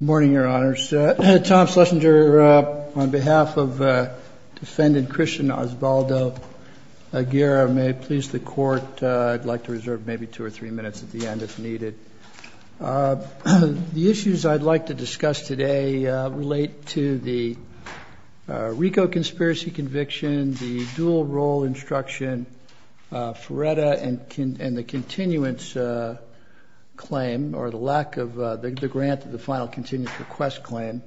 Good morning, your honors. Tom Schlesinger on behalf of defendant Christian Osvaldo Aguirra, may it please the court I'd like to reserve maybe two or three minutes at the end if needed. The issues I'd like to discuss today relate to the RICO conspiracy conviction, the dual role instruction, FRERETA, and the continuance claim or the lack of the grant of the final continuance request claim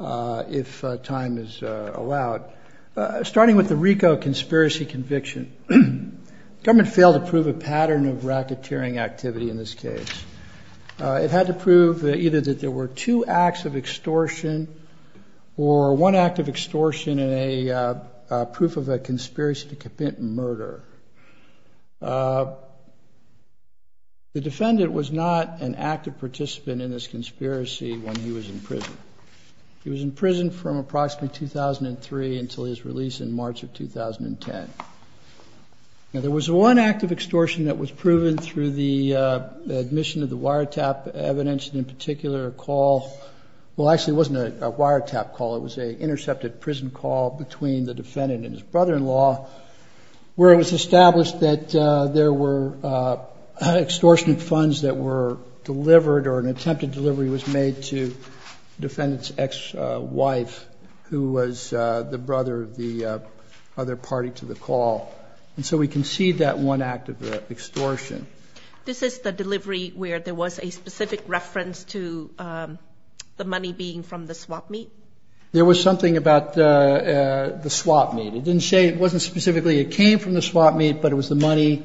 if time is allowed. Starting with the RICO conspiracy conviction, the government failed to prove a pattern of racketeering activity in this case. It had to prove either that there were two acts of extortion or one act of extortion and a proof of a conspiracy to commit murder. The defendant was not an active participant in this conspiracy when he was in prison. He was in prison from approximately 2003 until his release in March of 2010. There was one act of extortion that was proven through the admission of the wiretap evidence and in particular a call, well, actually it wasn't a wiretap call, it was an intercepted prison call between the defendant and his brother-in-law where it was established that there were extortionate funds that were delivered or an attempted delivery was made to the defendant's ex-wife who was the brother of the other extortion. This is the delivery where there was a specific reference to the money being from the swap meet? There was something about the swap meet. It didn't say, it wasn't specifically it came from the swap meet, but it was the money.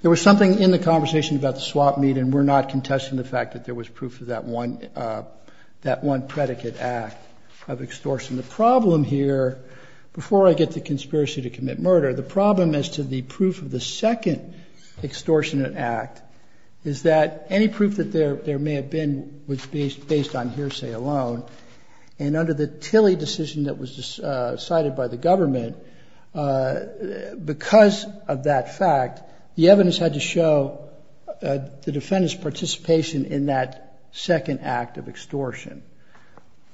There was something in the conversation about the swap meet and we're not contesting the fact that there was proof of that one predicate act of extortion. The problem here, before I get to conspiracy to commit murder, the problem as to the proof of the second extortionate act is that any proof that there may have been was based on hearsay alone and under the Tilly decision that was decided by the government, because of that fact, the evidence had to show the defendant's participation in that second act of extortion.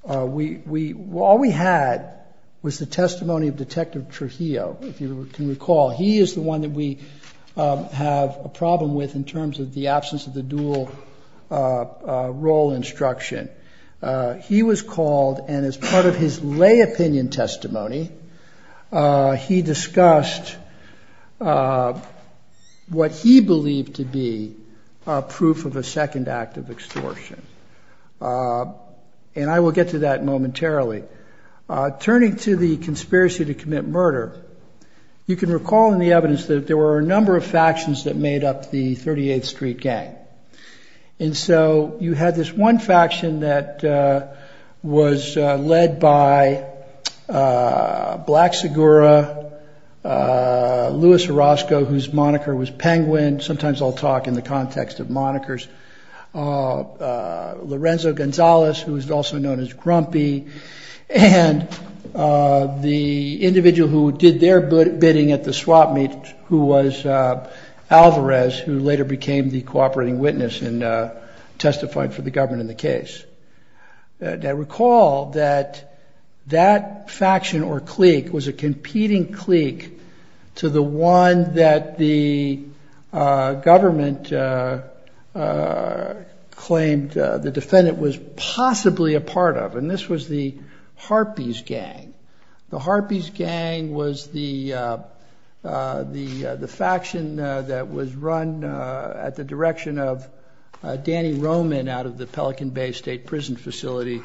All we had was the testimony of Detective Trujillo, if you can recall. He is the one that we have a problem with in terms of the absence of the dual role instruction. He was called and as part of his lay opinion testimony, he discussed what he believed to be proof of a second act of extortion. And I will get to that momentarily. Turning to the conspiracy to commit murder, you can recall in the evidence that there were a number of factions that made up the 38th Street Gang. And so you had this one faction that was led by Black Segura, Louis Orozco, whose moniker was Penguin. Sometimes I'll talk in the context of monikers. Lorenzo Gonzalez, who is also known as Grumpy. And the individual who did their bidding at the swap meet, who was Alvarez, who later became the cooperating witness and testified for the government in the case. Now recall that that government claimed the defendant was possibly a part of, and this was the Harpies Gang. The Harpies Gang was the faction that was run at the direction of Danny Roman out of the Pelican Bay State Prison Facility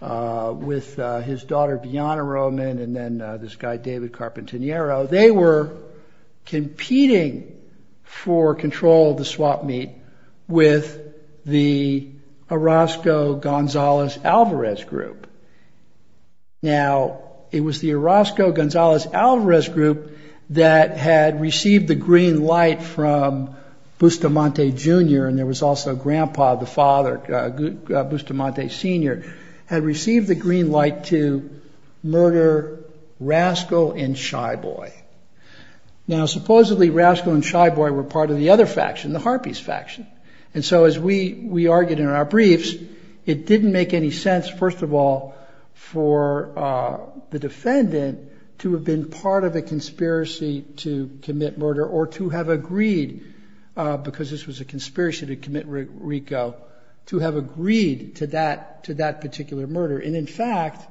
with his daughter, Bianna Roman, and then this guy, David Carpentiniero. They were competing for control of the swap meet with the Orozco-Gonzalez-Alvarez group. Now it was the Orozco-Gonzalez-Alvarez group that had received the green light from Bustamante Jr., and there was also Grandpa, the father, Bustamante Sr., had received the green light to murder Rascal and Shy Boy. Now supposedly Rascal and Shy Boy were part of the other faction, the Harpies faction. And so as we argued in our briefs, it didn't make any sense, first of all, for the defendant to have been part of a conspiracy to commit murder or to have agreed, because this was a conspiracy to commit RICO, to have agreed to that particular murder. And in fact,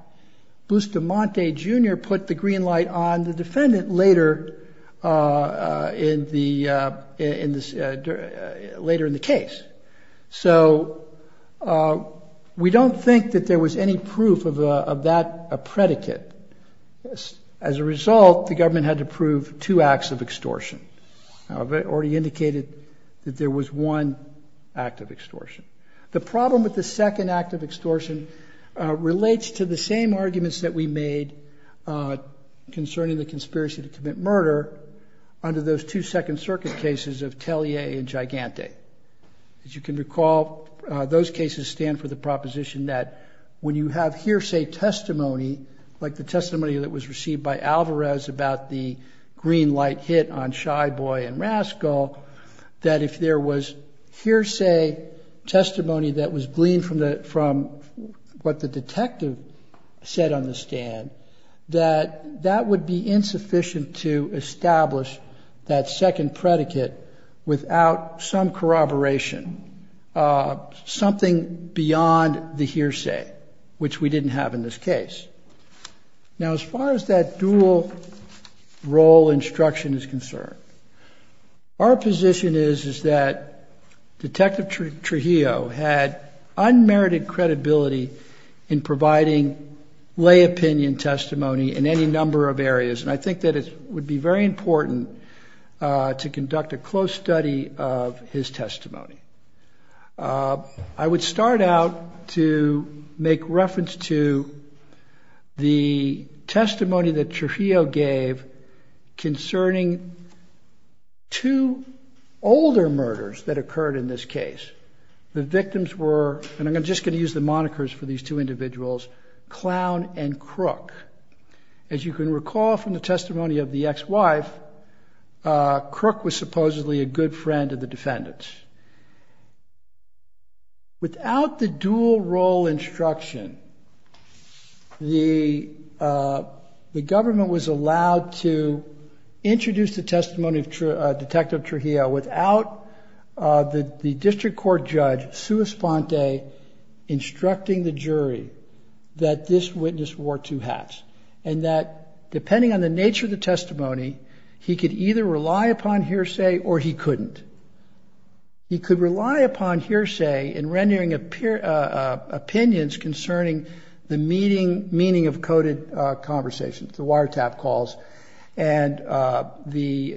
Bustamante Jr. put the green light on the defendant later, later in the case. So we don't think that there was any proof of that predicate. As a result, the government had to prove two acts of extortion. I've already indicated that there was one act of extortion. The problem with the second act of extortion relates to the same arguments that we made concerning the conspiracy to commit murder under those two Second Circuit cases of Tellier and Gigante. As you can recall, those cases stand for the proposition that when you have hearsay testimony, like the testimony that was received by Alvarez about the green light hit on Shy Boy and Rascal, that if there was hearsay testimony that was gleaned from what the detective said on the stand, that that would be insufficient to establish that second predicate without some corroboration, something beyond the hearsay, which we didn't have in this case. Now, as far as that dual role instruction is concerned, our position is, is that Detective Trujillo had unmerited credibility in providing lay opinion testimony in any number of areas, and I think that it would be very important to conduct a close study of his testimony. I would start out to make reference to the testimony that Trujillo gave concerning two older murders that occurred in this case. The monikers for these two individuals, Clown and Crook. As you can recall from the testimony of the ex-wife, Crook was supposedly a good friend of the defendants. Without the dual role instruction, the government was allowed to introduce the testimony of Detective Trujillo without the instructing the jury that this witness wore two hats, and that depending on the nature of the testimony, he could either rely upon hearsay or he couldn't. He could rely upon hearsay in rendering opinions concerning the meaning of coded conversations, the wiretap calls, and the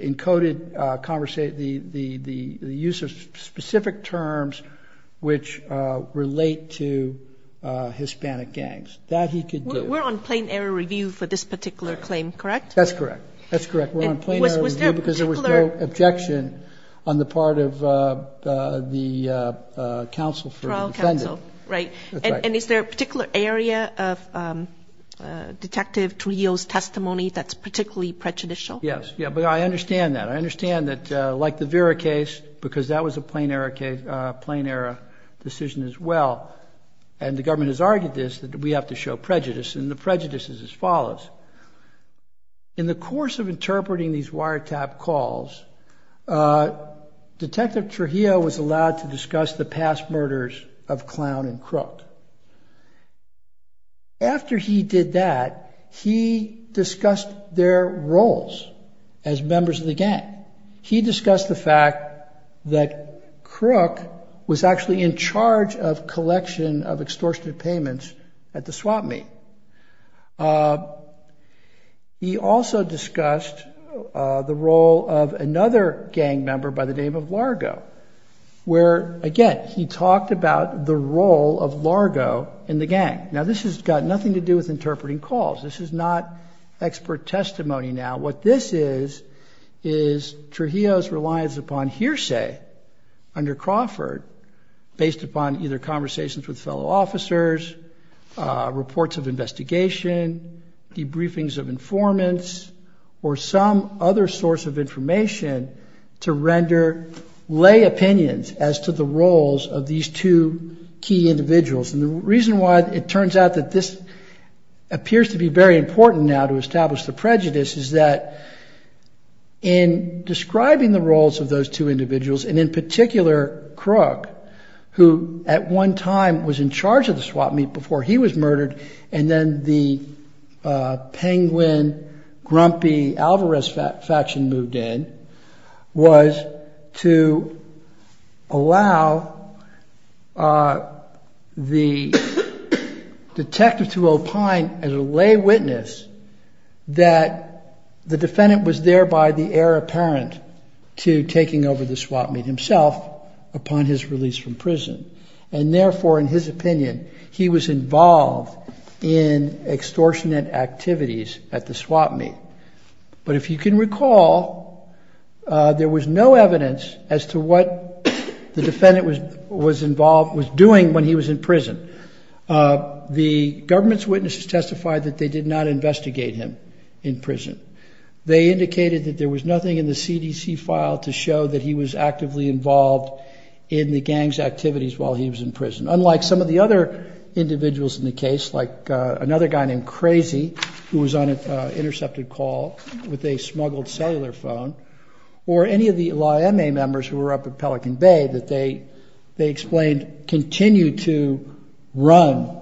use of specific terms which relate to Hispanic gangs. That he could do. We're on plain error review for this particular claim, correct? That's correct. That's correct. We're on plain error review because there was no objection on the part of the counsel for the defendant. And is there a particular area of Detective Trujillo's testimony that's particularly prejudicial? Yes, but I understand that. I understand that like the Vera case, because that was a plain error decision as well, and the government has argued this, that we have to show prejudice, and the prejudice is as follows. In the course of interpreting these wiretap calls, Detective Trujillo was allowed to discuss the past as members of the gang. He discussed the fact that Crook was actually in charge of collection of extortionate payments at the swap meet. He also discussed the role of another gang member by the name of Largo, where, again, he talked about the role of Largo in the gang. Now, this has got nothing to do with interpreting calls. This is not expert testimony now. What this is, is Trujillo's reliance upon hearsay under Crawford, based upon either conversations with fellow officers, reports of investigation, debriefings of informants, or some other source of information to render lay opinions as to the roles of these two key individuals. And the reason why it turns out that this appears to be very important now to establish the prejudice is that in describing the roles of those two individuals, and in particular Crook, who at one time was in charge of the swap meet before he was murdered, and then the Penguin, Grumpy, Alvarez faction moved in, was to allow the detective to opine as a lay witness that the defendant was thereby the heir apparent to taking over the swap meet himself upon his release from prison. And therefore, in his opinion, he was involved in extortionate activities at the swap meet. But if you can recall, there was no evidence as to what the defendant was doing when he was in prison. The government's witnesses testified that they did not investigate him in prison. They indicated that there was nothing in the CDC file to show that he was actively involved in the gang's activities while he was in prison. Unlike some of the other individuals in the case, like another guy named Crazy, who was on an intercepted call with a smuggled cellular phone, or any of the LAIMA members who were up at Pelican Bay that they explained continued to run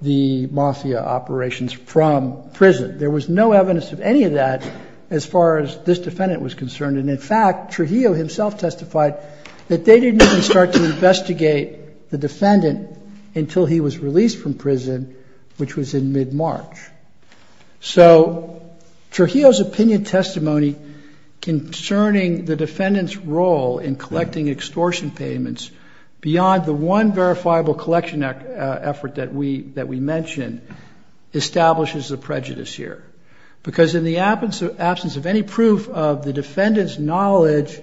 the mafia operations from prison. There was no evidence of any of that as far as this defendant was concerned. And in fact, Trujillo himself testified that they didn't even start to investigate the defendant until he was released from prison, which was in mid-March. So Trujillo's opinion testimony concerning the defendant's role in collecting extortion payments beyond the one verifiable collection effort that we mentioned establishes a prejudice here. Because in the absence of any proof of the defendant's knowledge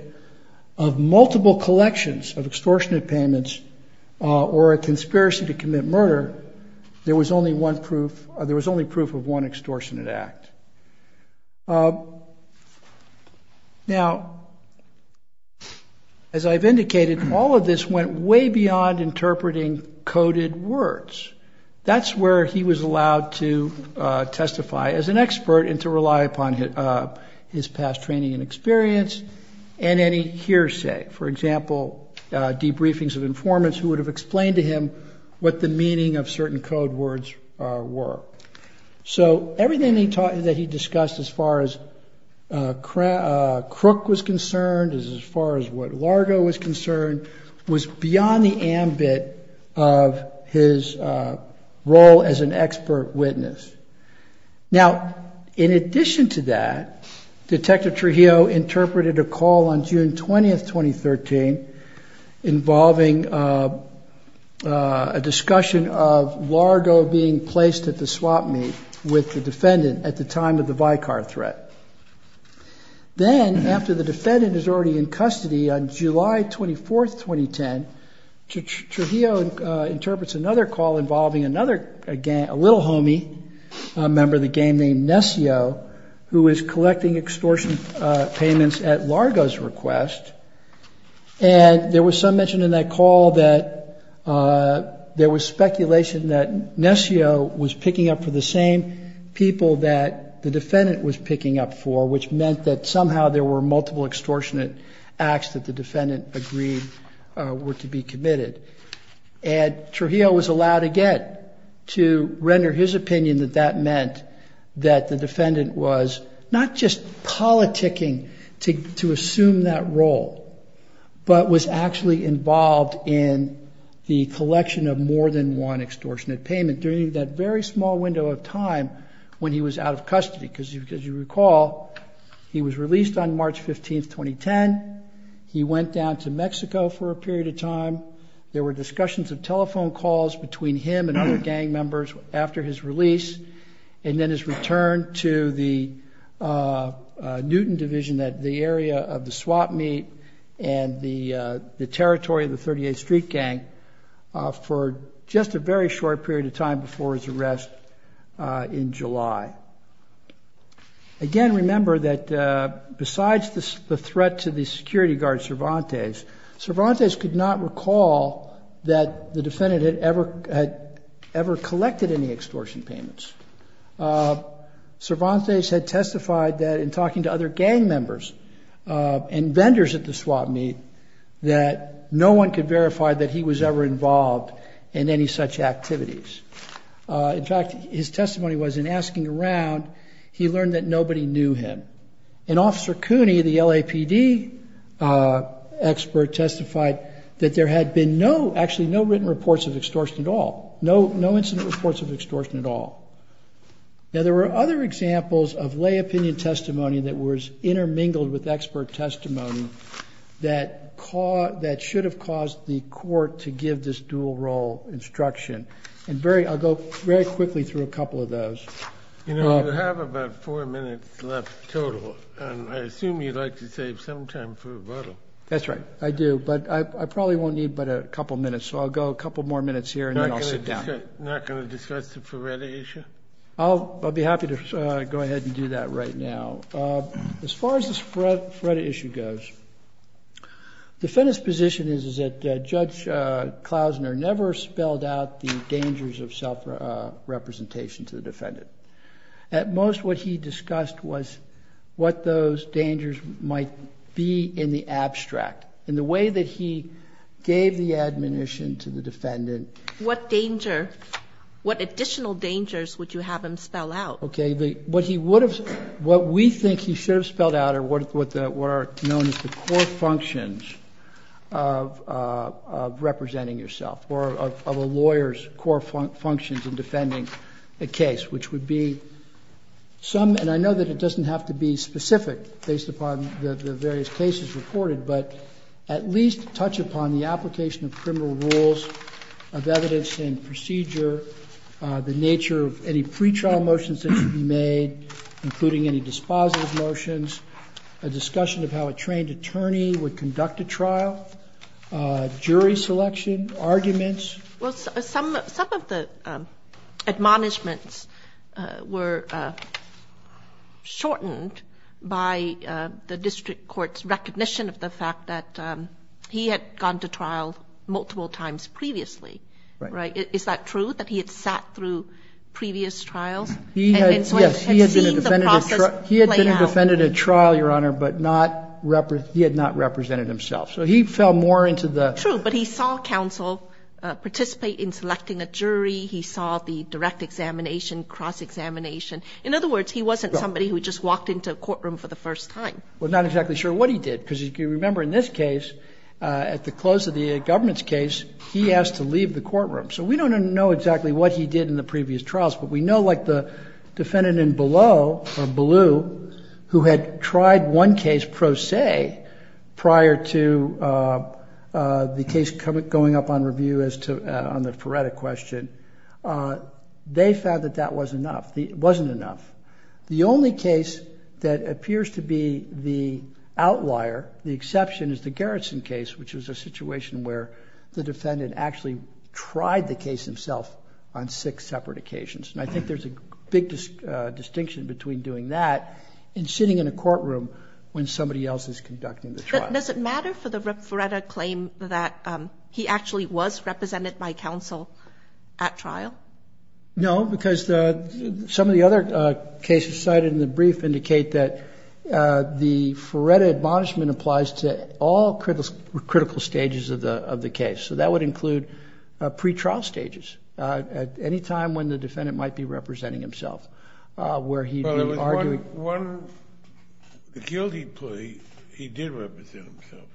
of multiple collections of extortionate payments or a conspiracy to commit murder, there was only proof of one extortionate act. Now, as I've indicated, all of this went way beyond interpreting coded words. That's where he was allowed to testify as an expert and to rely upon his past training and experience and any hearsay. For example, debriefings of informants who would have explained to him what the meaning of certain code words were. So everything that he discussed as far as Crook was concerned, as far as what Largo was concerned, was beyond the ambit of his role as an expert witness. Now, in addition to that, Detective Trujillo interpreted a call on June 20th, 2013, involving a discussion of Largo being placed at the swap meet with the defendant at the time of the Vicar threat. Then, after the defendant is already in custody on July 24th, 2010, Trujillo interprets another call involving a little homie, a member of the gang named Nessio, who is collecting extortion payments at Largo's request. And there was some mention in that call that there was speculation that Nessio was picking up for the same people that the defendant was picking up for, which meant that somehow there were multiple extortionate acts that the defendant agreed were to be committed. And Trujillo was allowed again to render his opinion that that meant that the defendant was not just politicking to assume that role, but was actually involved in the collection of more than one extortionate payment during that very small window of time when he was out of custody. Because, as you recall, he was released on March 15th, 2010, he went down to Mexico for a period of time, there were discussions of telephone calls between him and other gang members after his release, and then his return to the Newton Division at the area of the swap meet and the territory of the 38th Street Gang for just a very short period of time before his arrest in July. Again, remember that besides the threat to the security guard, Cervantes, Cervantes could not recall that the defendant had ever collected any extortion payments. Cervantes had testified that in talking to other gang members and vendors at the swap meet that no one could verify that he was ever involved in any such activities. In fact, his testimony was in asking around, he learned that nobody knew him. And Officer Cooney, the LAPD expert, testified that there had been no, actually no written reports of extortion at all, no incident reports of extortion at all. Now, there were other examples of lay opinion testimony that was intermingled with expert testimony that should have caused the court to give this dual role instruction. And I'll go very quickly through a couple of those. You know, you have about four minutes left total, and I assume you'd like to save some time for rebuttal. That's right, I do, but I probably won't need but a couple minutes, so I'll go a couple more minutes here and then I'll sit down. You're not going to discuss the Feretta issue? I'll be happy to go ahead and do that right now. As far as this Feretta issue goes, the defendant's position is that Judge Klausner never spelled out the dangers of self-representation to the defendant. At most, what he discussed was what those dangers might be in the abstract, in the way that he gave the admonition to the defendant. What danger, what additional dangers would you have him spell out? Okay, what he would have, what we think he should have spelled out are what are known as the core functions of representing yourself or of a lawyer's core functions in defending a case, which would be some, and I know that it doesn't have to be specific based upon the various cases reported, but at least touch upon the application of criminal rules of evidence and procedure, the nature of any pretrial motions that should be made, including any dispositive motions, a discussion of how a trained attorney would conduct a trial, jury selection, arguments. Well, some of the admonishments were shortened by the district court's recognition of the fact that he had gone to trial multiple times previously. Right. Is that true, that he had sat through previous trials? Yes, he had been a defendant at trial, Your Honor, but not, he had not represented himself. So he fell more into the. True, but he saw counsel participate in selecting a jury. He saw the direct examination, cross-examination. In other words, he wasn't somebody who just walked into a courtroom for the first time. Well, not exactly sure what he did, because if you remember in this case, at the close of the government's case, he asked to leave the courtroom. So we don't know exactly what he did in the previous trials, but we know like the defendant in below, or blue, who had tried one case pro se prior to the case going up on review as to, on the Peretta question. They found that that was enough. It wasn't enough. The only case that appears to be the outlier, the exception is the Garrison case, which is a situation where the defendant actually tried the case himself on six separate occasions. And I think there's a big distinction between doing that and sitting in a courtroom when somebody else is conducting the trial. Does it matter for the Peretta claim that he actually was represented by counsel at trial? No, because some of the other cases cited in the brief indicate that the Peretta admonishment applies to all critical stages of the case. So that would include pretrial stages, at any time when the defendant might be representing himself, where he'd be arguing. Well, there was one guilty plea. He did represent himself.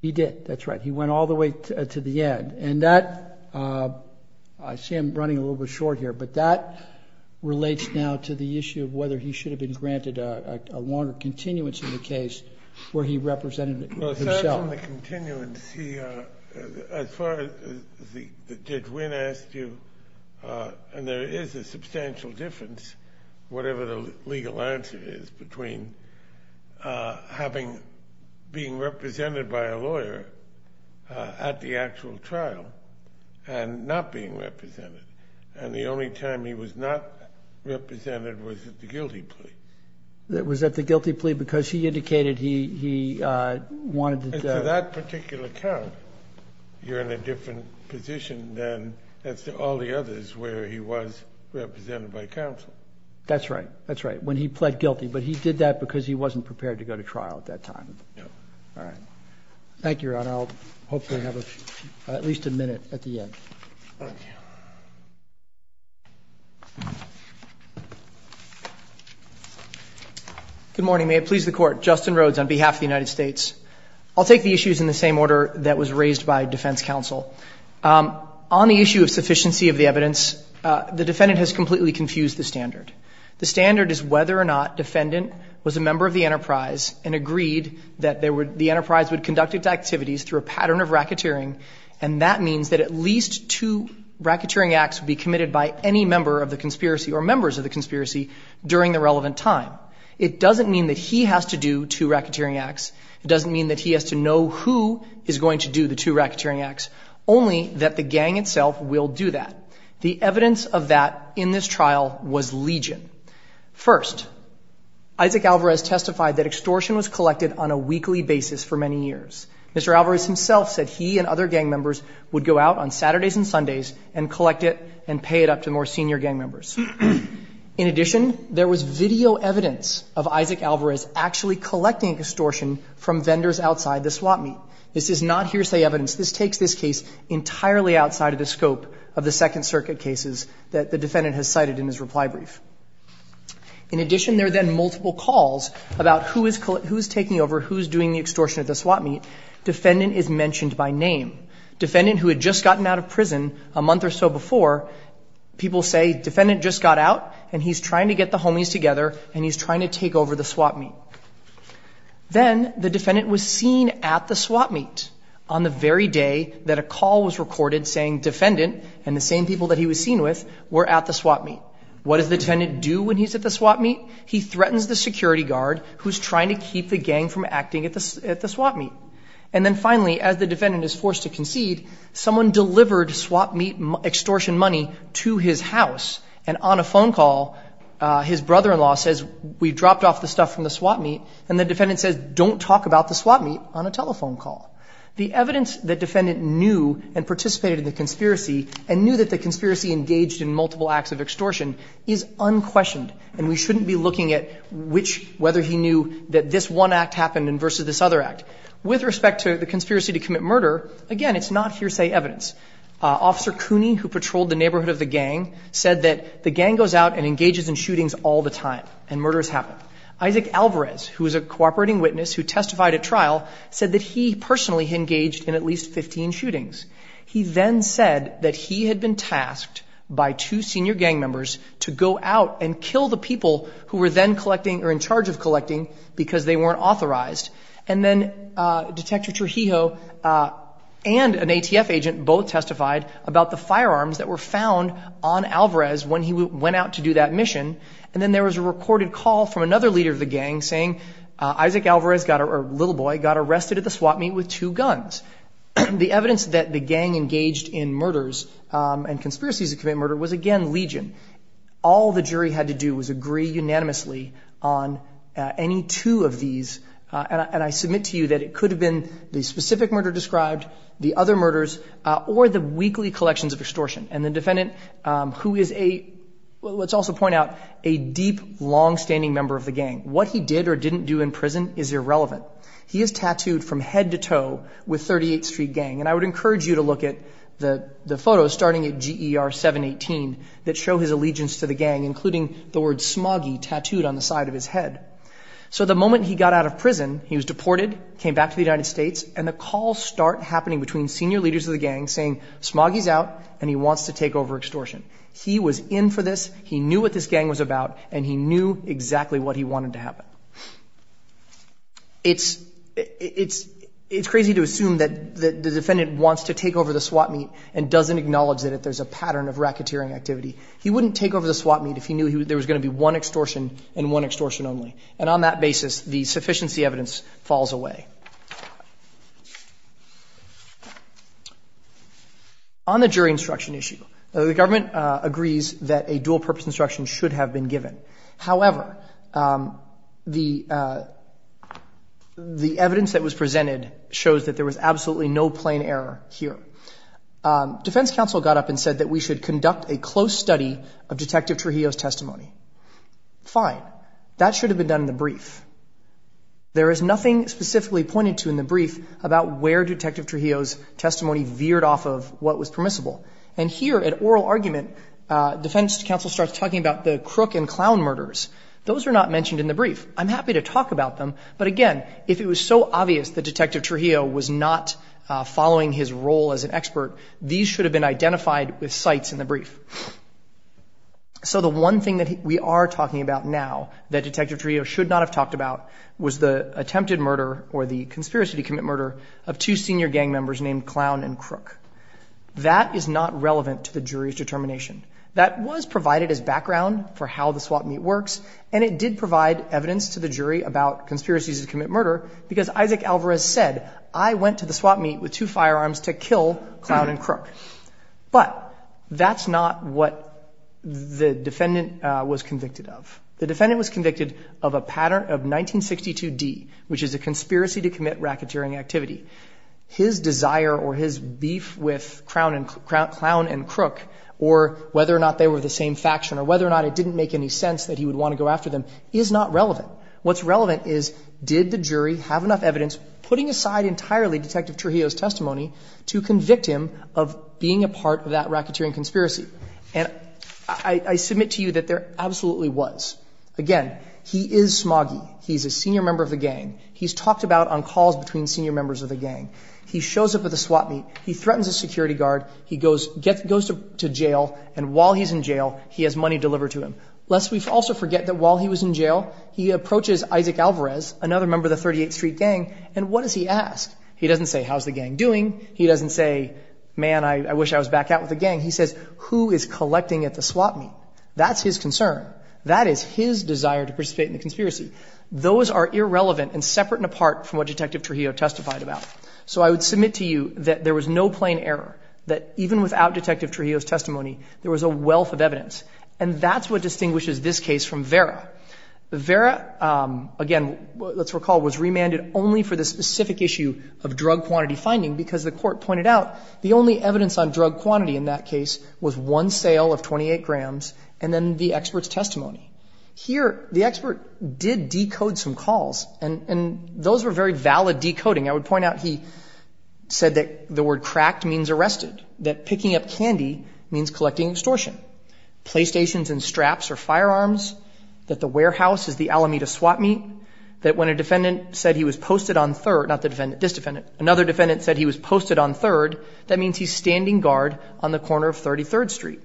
He did, that's right. He went all the way to the end. And that, I see I'm running a little bit short here, but that relates now to the issue of whether he should have been granted a longer continuance in the case where he represented himself. As far as Judge Wynn asked you, and there is a substantial difference, whatever the legal answer is, between being represented by a lawyer at the actual trial and not being represented. And the only time he was not represented was at the guilty plea. Was at the guilty plea because he indicated he wanted to... And for that particular count, you're in a different position than all the others where he was represented by counsel. That's right. That's right. When he pled guilty. But he did that because he wasn't prepared to go to trial at that time. All right. Thank you, Your Honor. I'll hopefully have at least a minute at the end. Thank you. Good morning. May it please the Court. Justin Rhodes on behalf of the United States. I'll take the issues in the same order that was raised by defense counsel. On the issue of sufficiency of the evidence, the defendant has completely confused the standard. The standard is whether or not defendant was a member of the enterprise and agreed that the enterprise would conduct its activities through a pattern of racketeering, and that means that at least two racketeering acts would be committed by any member of the conspiracy or members of the conspiracy during the relevant time. It doesn't mean that he has to do two racketeering acts. It doesn't mean that he has to know who is going to do the two racketeering acts, only that the gang itself will do that. The evidence of that in this trial was Legion. First, Isaac Alvarez testified that extortion was collected on a weekly basis for many years. Mr. Alvarez himself said he and other gang members would go out on Saturdays and Sundays and collect it and pay it up to more senior gang members. In addition, there was video evidence of Isaac Alvarez actually collecting extortion from vendors outside the swap meet. This is not hearsay evidence. This takes this case entirely outside of the scope of the Second Circuit cases that the defendant has cited in his reply brief. In addition, there are then multiple calls about who is taking over, who is doing the extortion at the swap meet. Defendant is mentioned by name. Defendant who had just gotten out of prison a month or so before, people say, defendant just got out and he's trying to get the homies together and he's trying to take over the swap meet. Then the defendant was seen at the swap meet on the very day that a call was recorded saying defendant and the same people that he was seen with were at the swap meet. What does the defendant do when he's at the swap meet? He threatens the security guard who's trying to keep the gang from acting at the swap meet. And then finally, as the defendant is forced to concede, someone delivered swap meet extortion money to his house. And on a phone call, his brother-in-law says, we dropped off the stuff from the swap meet. And the defendant says, don't talk about the swap meet on a telephone call. The evidence that defendant knew and participated in the conspiracy and knew that the conspiracy engaged in multiple acts of extortion is unquestioned and we shouldn't be looking at which, whether he knew that this one act happened versus this other act. With respect to the conspiracy to commit murder, again, it's not hearsay evidence. Officer Cooney, who patrolled the neighborhood of the gang, said that the gang goes out and engages in shootings all the time and murders happen. Isaac Alvarez, who is a cooperating witness who testified at trial, said that he personally engaged in at least 15 shootings. He then said that he had been tasked by two senior gang members to go out and kill the people who were then collecting or in charge of collecting because they weren't authorized. And then Detective Trujillo and an ATF agent both testified about the firearms that were found on Alvarez when he went out to do that mission. And then there was a recorded call from another leader of the gang saying Isaac Alvarez, a little boy, got arrested at the swap meet with two guns. The evidence that the gang engaged in murders and conspiracies to commit murder was, again, legion. All the jury had to do was agree unanimously on any two of these, and I submit to you that it could have been the specific murder described, the other murders, or the weekly collections of extortion. And the defendant, who is a, let's also point out, a deep, longstanding member of the gang, what he did or didn't do in prison is irrelevant. He is tattooed from head to toe with 38th Street Gang, and I would encourage you to look at the photos starting at GER 718 that show his allegiance to the gang, including the word smoggy tattooed on the side of his head. So the moment he got out of prison, he was deported, came back to the United States, and the calls start happening between senior leaders of the gang saying smoggy's out and he wants to take over extortion. He was in for this, he knew what this gang was about, and he knew exactly what he wanted to happen. It's crazy to assume that the defendant wants to take over the swap meet and doesn't acknowledge that there's a pattern of racketeering activity. He wouldn't take over the swap meet if he knew there was going to be one extortion and one extortion only, and on that basis, the sufficiency evidence falls away. On the jury instruction issue, the government agrees that a dual-purpose instruction should have been given. However, the evidence that was presented shows that there was absolutely no plain error here. Defense counsel got up and said that we should conduct a close study of Detective Trujillo's testimony. Fine. That should have been done in the brief. There is nothing specifically pointed to in the brief about where Detective Trujillo's testimony veered off of what was permissible. And here, at oral argument, defense counsel starts talking about the crook and clown murders. Those are not mentioned in the brief. I'm happy to talk about them, but again, if it was so obvious that Detective Trujillo was not following his role as an expert, So the one thing that we are talking about now that Detective Trujillo should not have talked about was the attempted murder or the conspiracy to commit murder of two senior gang members named Clown and Crook. That is not relevant to the jury's determination. That was provided as background for how the swap meet works, and it did provide evidence to the jury about conspiracies to commit murder, because Isaac Alvarez said, I went to the swap meet with two firearms to kill Clown and Crook. But that's not what the defendant was convicted of. The defendant was convicted of a pattern of 1962D, which is a conspiracy to commit racketeering activity. His desire or his beef with Clown and Crook, or whether or not they were the same faction, or whether or not it didn't make any sense that he would want to go after them, is not relevant. What's relevant is, did the jury have enough evidence, putting aside entirely Detective Trujillo's testimony to convict him of being a part of that racketeering conspiracy? And I submit to you that there absolutely was. Again, he is smoggy. He's a senior member of the gang. He's talked about on calls between senior members of the gang. He shows up at the swap meet. He threatens a security guard. He goes to jail, and while he's in jail, he has money delivered to him. Lest we also forget that while he was in jail, he approaches Isaac Alvarez, another member of the 38th Street Gang, and what does he ask? He doesn't say, how's the gang doing? He doesn't say, man, I wish I was back out with the gang. He says, who is collecting at the swap meet? That's his concern. That is his desire to participate in the conspiracy. Those are irrelevant and separate and apart from what Detective Trujillo testified about. So I would submit to you that there was no plain error, that even without Detective Trujillo's testimony, there was a wealth of evidence. And that's what distinguishes this case from Vera. Vera, again, let's recall, was remanded only for the specific issue of drug quantity finding because the court pointed out the only evidence on drug quantity in that case was one sale of 28 grams and then the expert's testimony. Here, the expert did decode some calls, and those were very valid decoding. I would point out he said that the word cracked means arrested, that picking up candy means collecting extortion. Playstations and straps are firearms, that the warehouse is the Alameda swap meet, that when a defendant said he was posted on third, not the defendant, this defendant, another defendant said he was posted on third, that means he's standing guard on the corner of 33rd Street.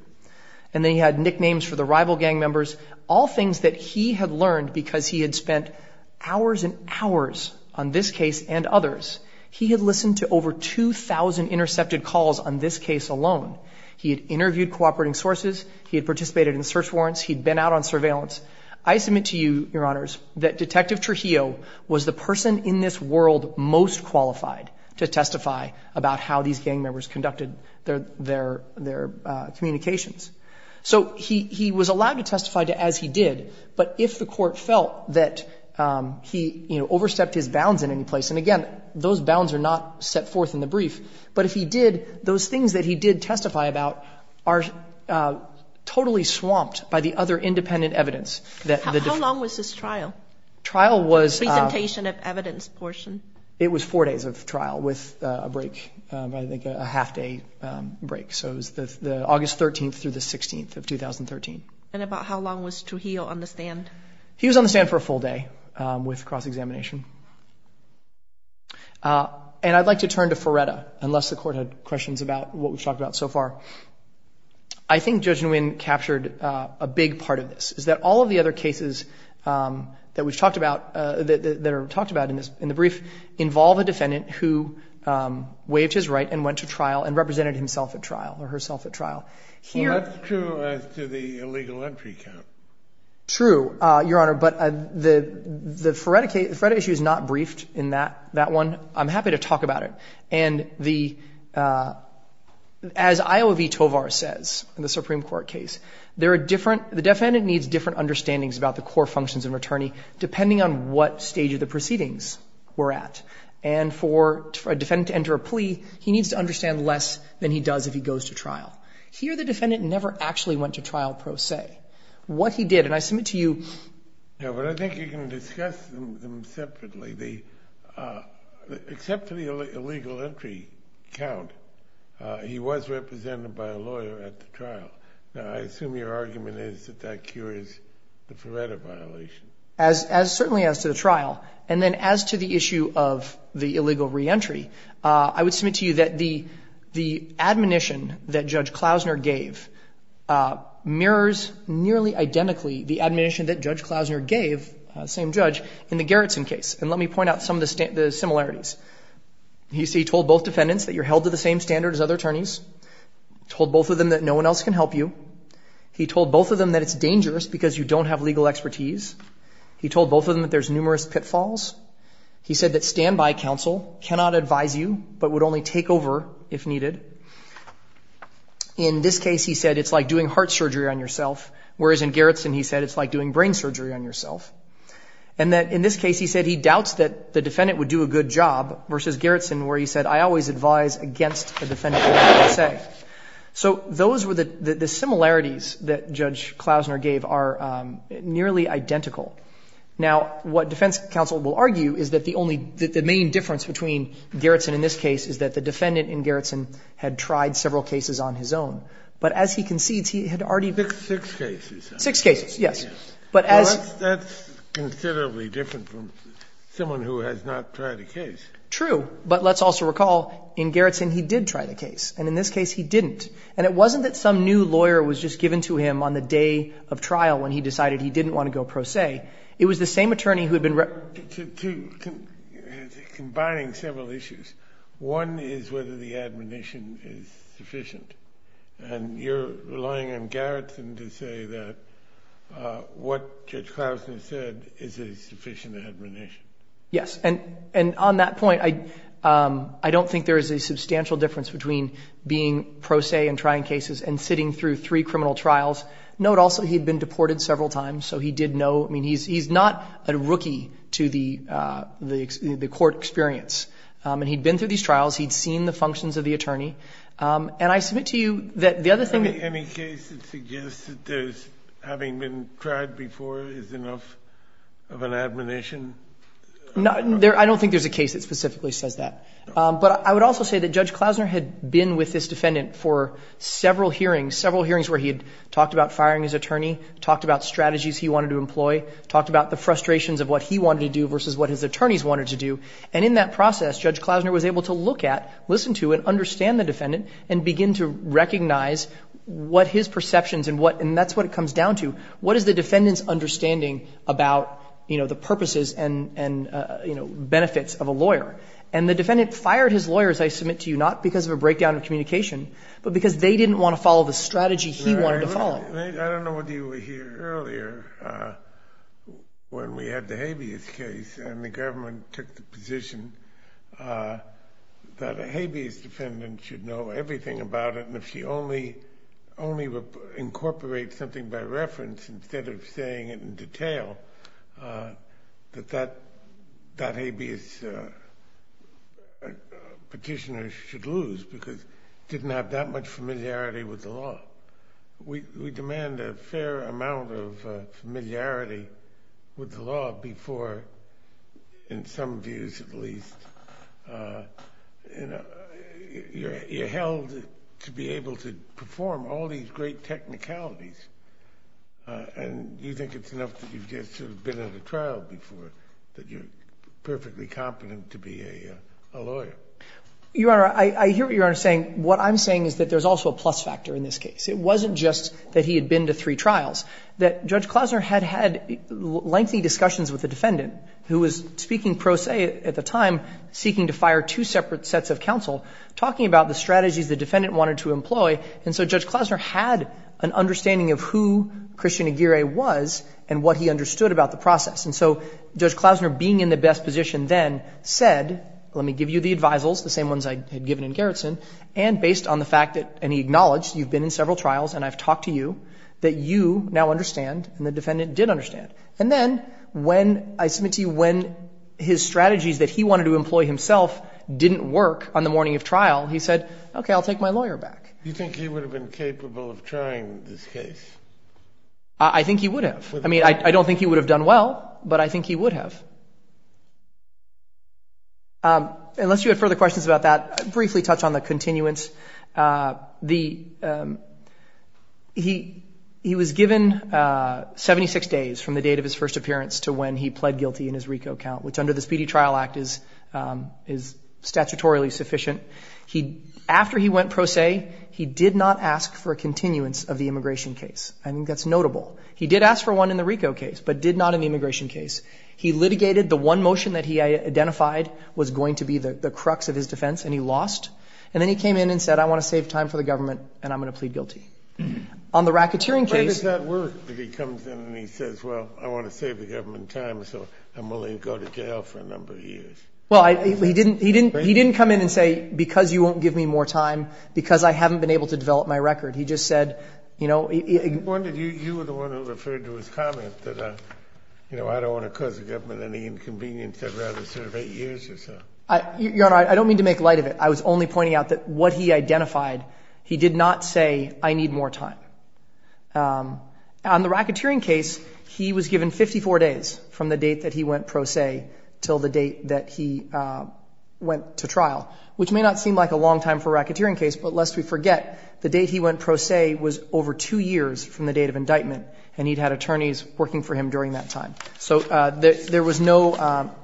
And then he had nicknames for the rival gang members, all things that he had learned because he had spent hours and hours on this case and others. He had listened to over 2,000 intercepted calls on this case alone. He had interviewed cooperating sources. He had participated in search warrants. He had been out on surveillance. I submit to you, Your Honors, that Detective Trujillo was the person in this world most qualified to testify about how these gang members conducted their communications. So he was allowed to testify as he did, but if the court felt that he, you know, overstepped his bounds in any place, and again, those bounds are not set forth in the brief, but if he did, those things that he did testify about are totally swamped by the other independent evidence. How long was this trial? The presentation of evidence portion. It was four days of trial with a break, I think a half-day break. So it was August 13th through the 16th of 2013. And about how long was Trujillo on the stand? He was on the stand for a full day with cross-examination. And I'd like to turn to Ferretta, unless the court had questions about what we've talked about so far. I think Judge Nguyen captured a big part of this, is that all of the other cases that we've talked about, that are talked about in the brief, involve a defendant who waved his right and went to trial and represented himself at trial or herself at trial. Well, that's true as to the illegal entry count. True, Your Honor, but the Ferretta issue is not briefed in that one. I'm happy to talk about it. And as Iowa v. Tovar says in the Supreme Court case, the defendant needs different understandings about the core functions of an attorney, depending on what stage of the proceedings we're at. And for a defendant to enter a plea, he needs to understand less than he does if he goes to trial. Here, the defendant never actually went to trial, per se. What he did, and I submit to you. Yeah, but I think you can discuss them separately. Except for the illegal entry count, he was represented by a lawyer at the trial. Now, I assume your argument is that that cures the Ferretta violation. Certainly as to the trial. And then as to the issue of the illegal reentry, I would submit to you that the admonition that Judge Klausner gave mirrors nearly identically the admonition that Judge Klausner gave, same judge, in the Gerritsen case. And let me point out some of the similarities. He told both defendants that you're held to the same standard as other attorneys. He told both of them that no one else can help you. He told both of them that it's dangerous because you don't have legal expertise. He told both of them that there's numerous pitfalls. He said that standby counsel cannot advise you but would only take over if needed. In this case, he said it's like doing heart surgery on yourself. Whereas in Gerritsen, he said it's like doing brain surgery on yourself. And that in this case, he said he doubts that the defendant would do a good job versus Gerritsen where he said I always advise against the defendant. So those were the similarities that Judge Klausner gave are nearly identical. Now, what defense counsel will argue is that the only the main difference between Gerritsen in this case is that the defendant in Gerritsen had tried several cases on his own. But as he concedes, he had already. Six cases. Six cases, yes. But as. That's considerably different from someone who has not tried a case. True. But let's also recall in Gerritsen, he did try the case. And in this case, he didn't. And it wasn't that some new lawyer was just given to him on the day of trial when he decided he didn't want to go pro se. It was the same attorney who had been. Two. Combining several issues. One is whether the admonition is sufficient. And you're relying on Gerritsen to say that what Judge Klausner said is a sufficient admonition. Yes. And on that point, I don't think there is a substantial difference between being pro se and trying cases and sitting through three criminal trials. Note also he had been deported several times. So he did know. I mean, he's not a rookie to the court experience. And he'd been through these trials. He'd seen the functions of the attorney. And I submit to you that the other thing. Any case that suggests that having been tried before is enough of an admonition? I don't think there's a case that specifically says that. But I would also say that Judge Klausner had been with this defendant for several hearings. Several hearings where he had talked about firing his attorney, talked about strategies he wanted to employ, talked about the frustrations of what he wanted to do versus what his attorneys wanted to do. And in that process, Judge Klausner was able to look at, listen to, and understand the defendant and begin to recognize what his perceptions and what, and that's what it comes down to, what is the defendant's understanding about, you know, the purposes and, you know, benefits of a lawyer. And the defendant fired his lawyer, as I submit to you, not because of a breakdown in communication, but because they didn't want to follow the strategy he wanted to follow. I don't know whether you were here earlier when we had the habeas case and the government took the position that a habeas defendant should know everything about it and if she only incorporates something by reference instead of saying it in detail, that that habeas petitioner should lose because she didn't have that much familiarity with the law. We demand a fair amount of familiarity with the law before, in some views at least, you're held to be able to perform all these great technicalities and you think it's enough that you've just sort of been at a trial before that you're perfectly competent to be a lawyer. You Honor, I hear what you're saying. What I'm saying is that there's also a plus factor in this case. It wasn't just that he had been to three trials, that Judge Klosner had had lengthy discussions with the defendant who was speaking pro se at the time, seeking to fire two separate sets of counsel, talking about the strategies the defendant wanted to employ, and so Judge Klosner had an understanding of who Christian Aguirre was and what he understood about the process. And so Judge Klosner being in the best position then said, let me give you the advisals, the same ones I had given in Gerritsen, and based on the fact that, and he acknowledged, you've been in several trials and I've talked to you, that you now understand and the defendant did understand. And then when, I submit to you, when his strategies that he wanted to employ himself didn't work on the morning of trial, he said, okay, I'll take my lawyer back. You think he would have been capable of trying this case? I think he would have. I mean, I don't think he would have done well, but I think he would have. Unless you have further questions about that, I'll briefly touch on the continuance. He was given 76 days from the date of his first appearance to when he pled guilty in his RICO count, which under the Speedy Trial Act is statutorily sufficient. After he went pro se, he did not ask for a continuance of the immigration case. I think that's notable. He did ask for one in the RICO case, but did not in the immigration case. He litigated. The one motion that he identified was going to be the crux of his defense, and he lost. And then he came in and said, I want to save time for the government, and I'm going to plead guilty. On the racketeering case... Why does that work, if he comes in and he says, well, I want to save the government time, so I'm willing to go to jail for a number of years? Well, he didn't come in and say, because you won't give me more time, because I haven't been able to develop my record. He just said, you know... Your Honor, I don't mean to make light of it. I was only pointing out that what he identified, he did not say, I need more time. On the racketeering case, he was given 54 days from the date that he went pro se till the date that he went to trial, which may not seem like a long time for a racketeering case, but lest we forget, the date he went pro se was over two years from the date of indictment, and he'd had attorneys working for him during that time. So there was no...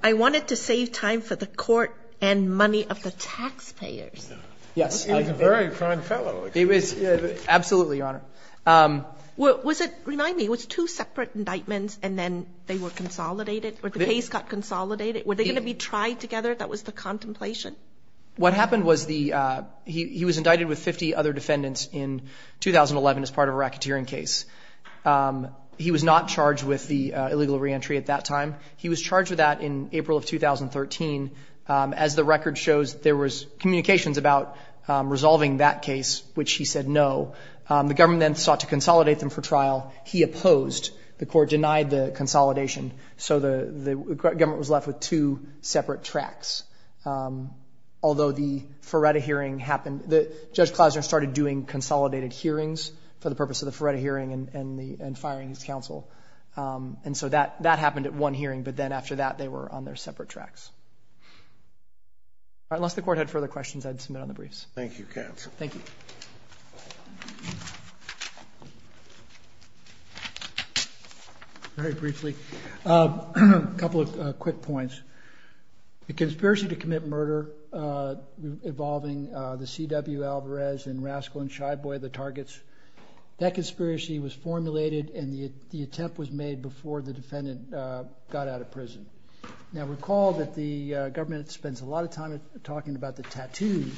I wanted to save time for the court and money of the taxpayers. Yes. He was a very kind fellow. He was. Absolutely, Your Honor. Was it, remind me, was it two separate indictments and then they were consolidated or the case got consolidated? Were they going to be tried together? That was the contemplation? What happened was he was indicted with 50 other defendants in 2011 as part of a racketeering case. He was not charged with the illegal reentry at that time. He was charged with that in April of 2013. As the record shows, there was communications about resolving that case, which he said no. The government then sought to consolidate them for trial. He opposed. The court denied the consolidation. So the government was left with two separate tracks. Although the Ferretta hearing happened, Judge Klausner started doing consolidated hearings for the purpose of the Ferretta hearing and firing his counsel. And so that happened at one hearing, but then after that they were on their separate tracks. Unless the court had further questions, I'd submit on the briefs. Thank you, counsel. Thank you. Very briefly, a couple of quick points. The conspiracy to commit murder involving the C.W. Alvarez and Rascal and Shy Boy, the targets, that conspiracy was formulated and the attempt was made before the defendant got out of prison. Now recall that the government spends a lot of time talking about the tattoos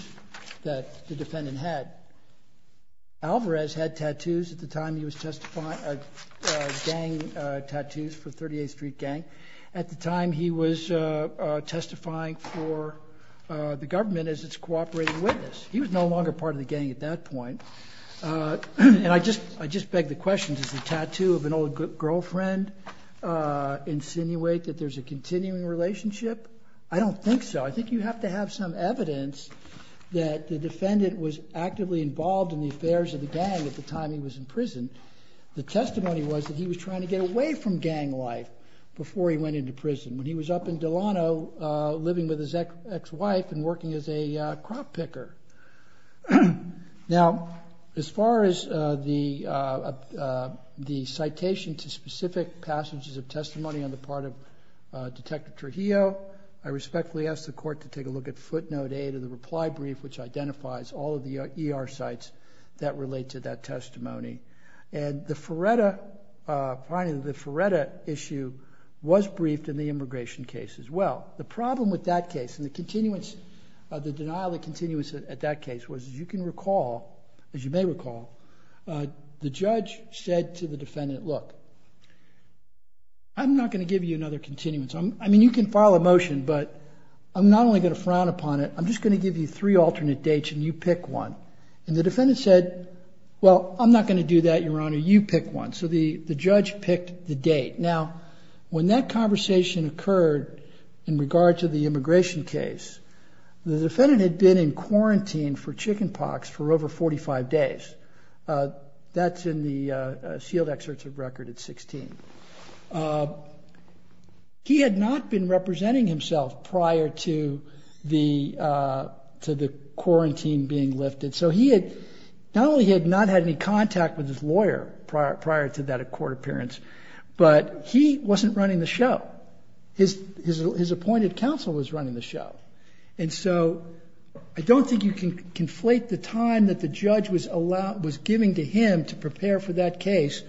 that the defendant had. Alvarez had tattoos at the time he was testifying, gang tattoos for 38th Street Gang. At the time he was testifying for the government as its cooperating witness. He was no longer part of the gang at that point. And I just beg the question, does the tattoo of an old girlfriend insinuate that there's a continuing relationship? I don't think so. I think you have to have some evidence that the defendant was actively involved in the affairs of the gang at the time he was in prison. The testimony was that he was trying to get away from gang life before he went into prison, when he was up in Delano living with his ex-wife and working as a crop picker. Now, as far as the citation to specific passages of testimony on the part of Detective Trujillo, I respectfully ask the court to take a look at footnote 8 of the reply brief, which identifies all of the ER sites that relate to that testimony. And the Feretta issue was briefed in the immigration case as well. The problem with that case and the continuance, the denial of continuance at that case was, as you can recall, as you may recall, the judge said to the defendant, look, I'm not going to give you another continuance. I mean, you can file a motion, but I'm not only going to frown upon it, I'm just going to give you three alternate dates and you pick one. And the defendant said, well, I'm not going to do that, Your Honor, you pick one. So the judge picked the date. Now, when that conversation occurred in regard to the immigration case, the defendant had been in quarantine for chicken pox for over 45 days. That's in the sealed excerpts of record at 16. He had not been representing himself prior to the quarantine being lifted. So he had not only had not had any contact with his lawyer prior to that court appearance, but he wasn't running the show. His appointed counsel was running the show. And so I don't think you can conflate the time that the judge was giving to him to prepare for that case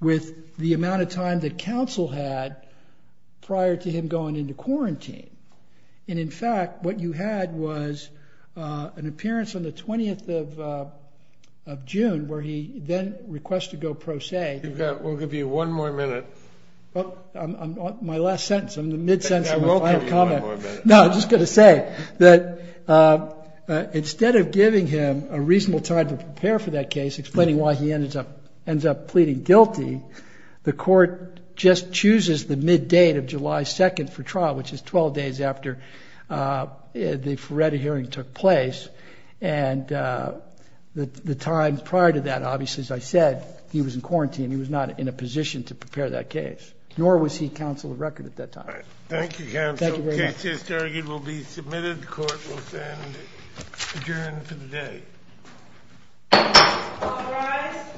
with the amount of time that counsel had prior to him going into quarantine. And, in fact, what you had was an appearance on the 20th of June where he then requested to go pro se. We'll give you one more minute. My last sentence. I'm in the mid-sentence of my final comment. No, I'm just going to say that instead of giving him a reasonable time to prepare for that case, explaining why he ends up pleading guilty, the court just chooses the mid-date of July 2nd for trial, which is 12 days after the Feretta hearing took place. And the time prior to that, obviously, as I said, he was in quarantine. He was not in a position to prepare that case, nor was he counsel of record at that time. All right. Thank you, counsel. Thank you very much. The case is targeted will be submitted. The court will stand adjourned for the day. All rise.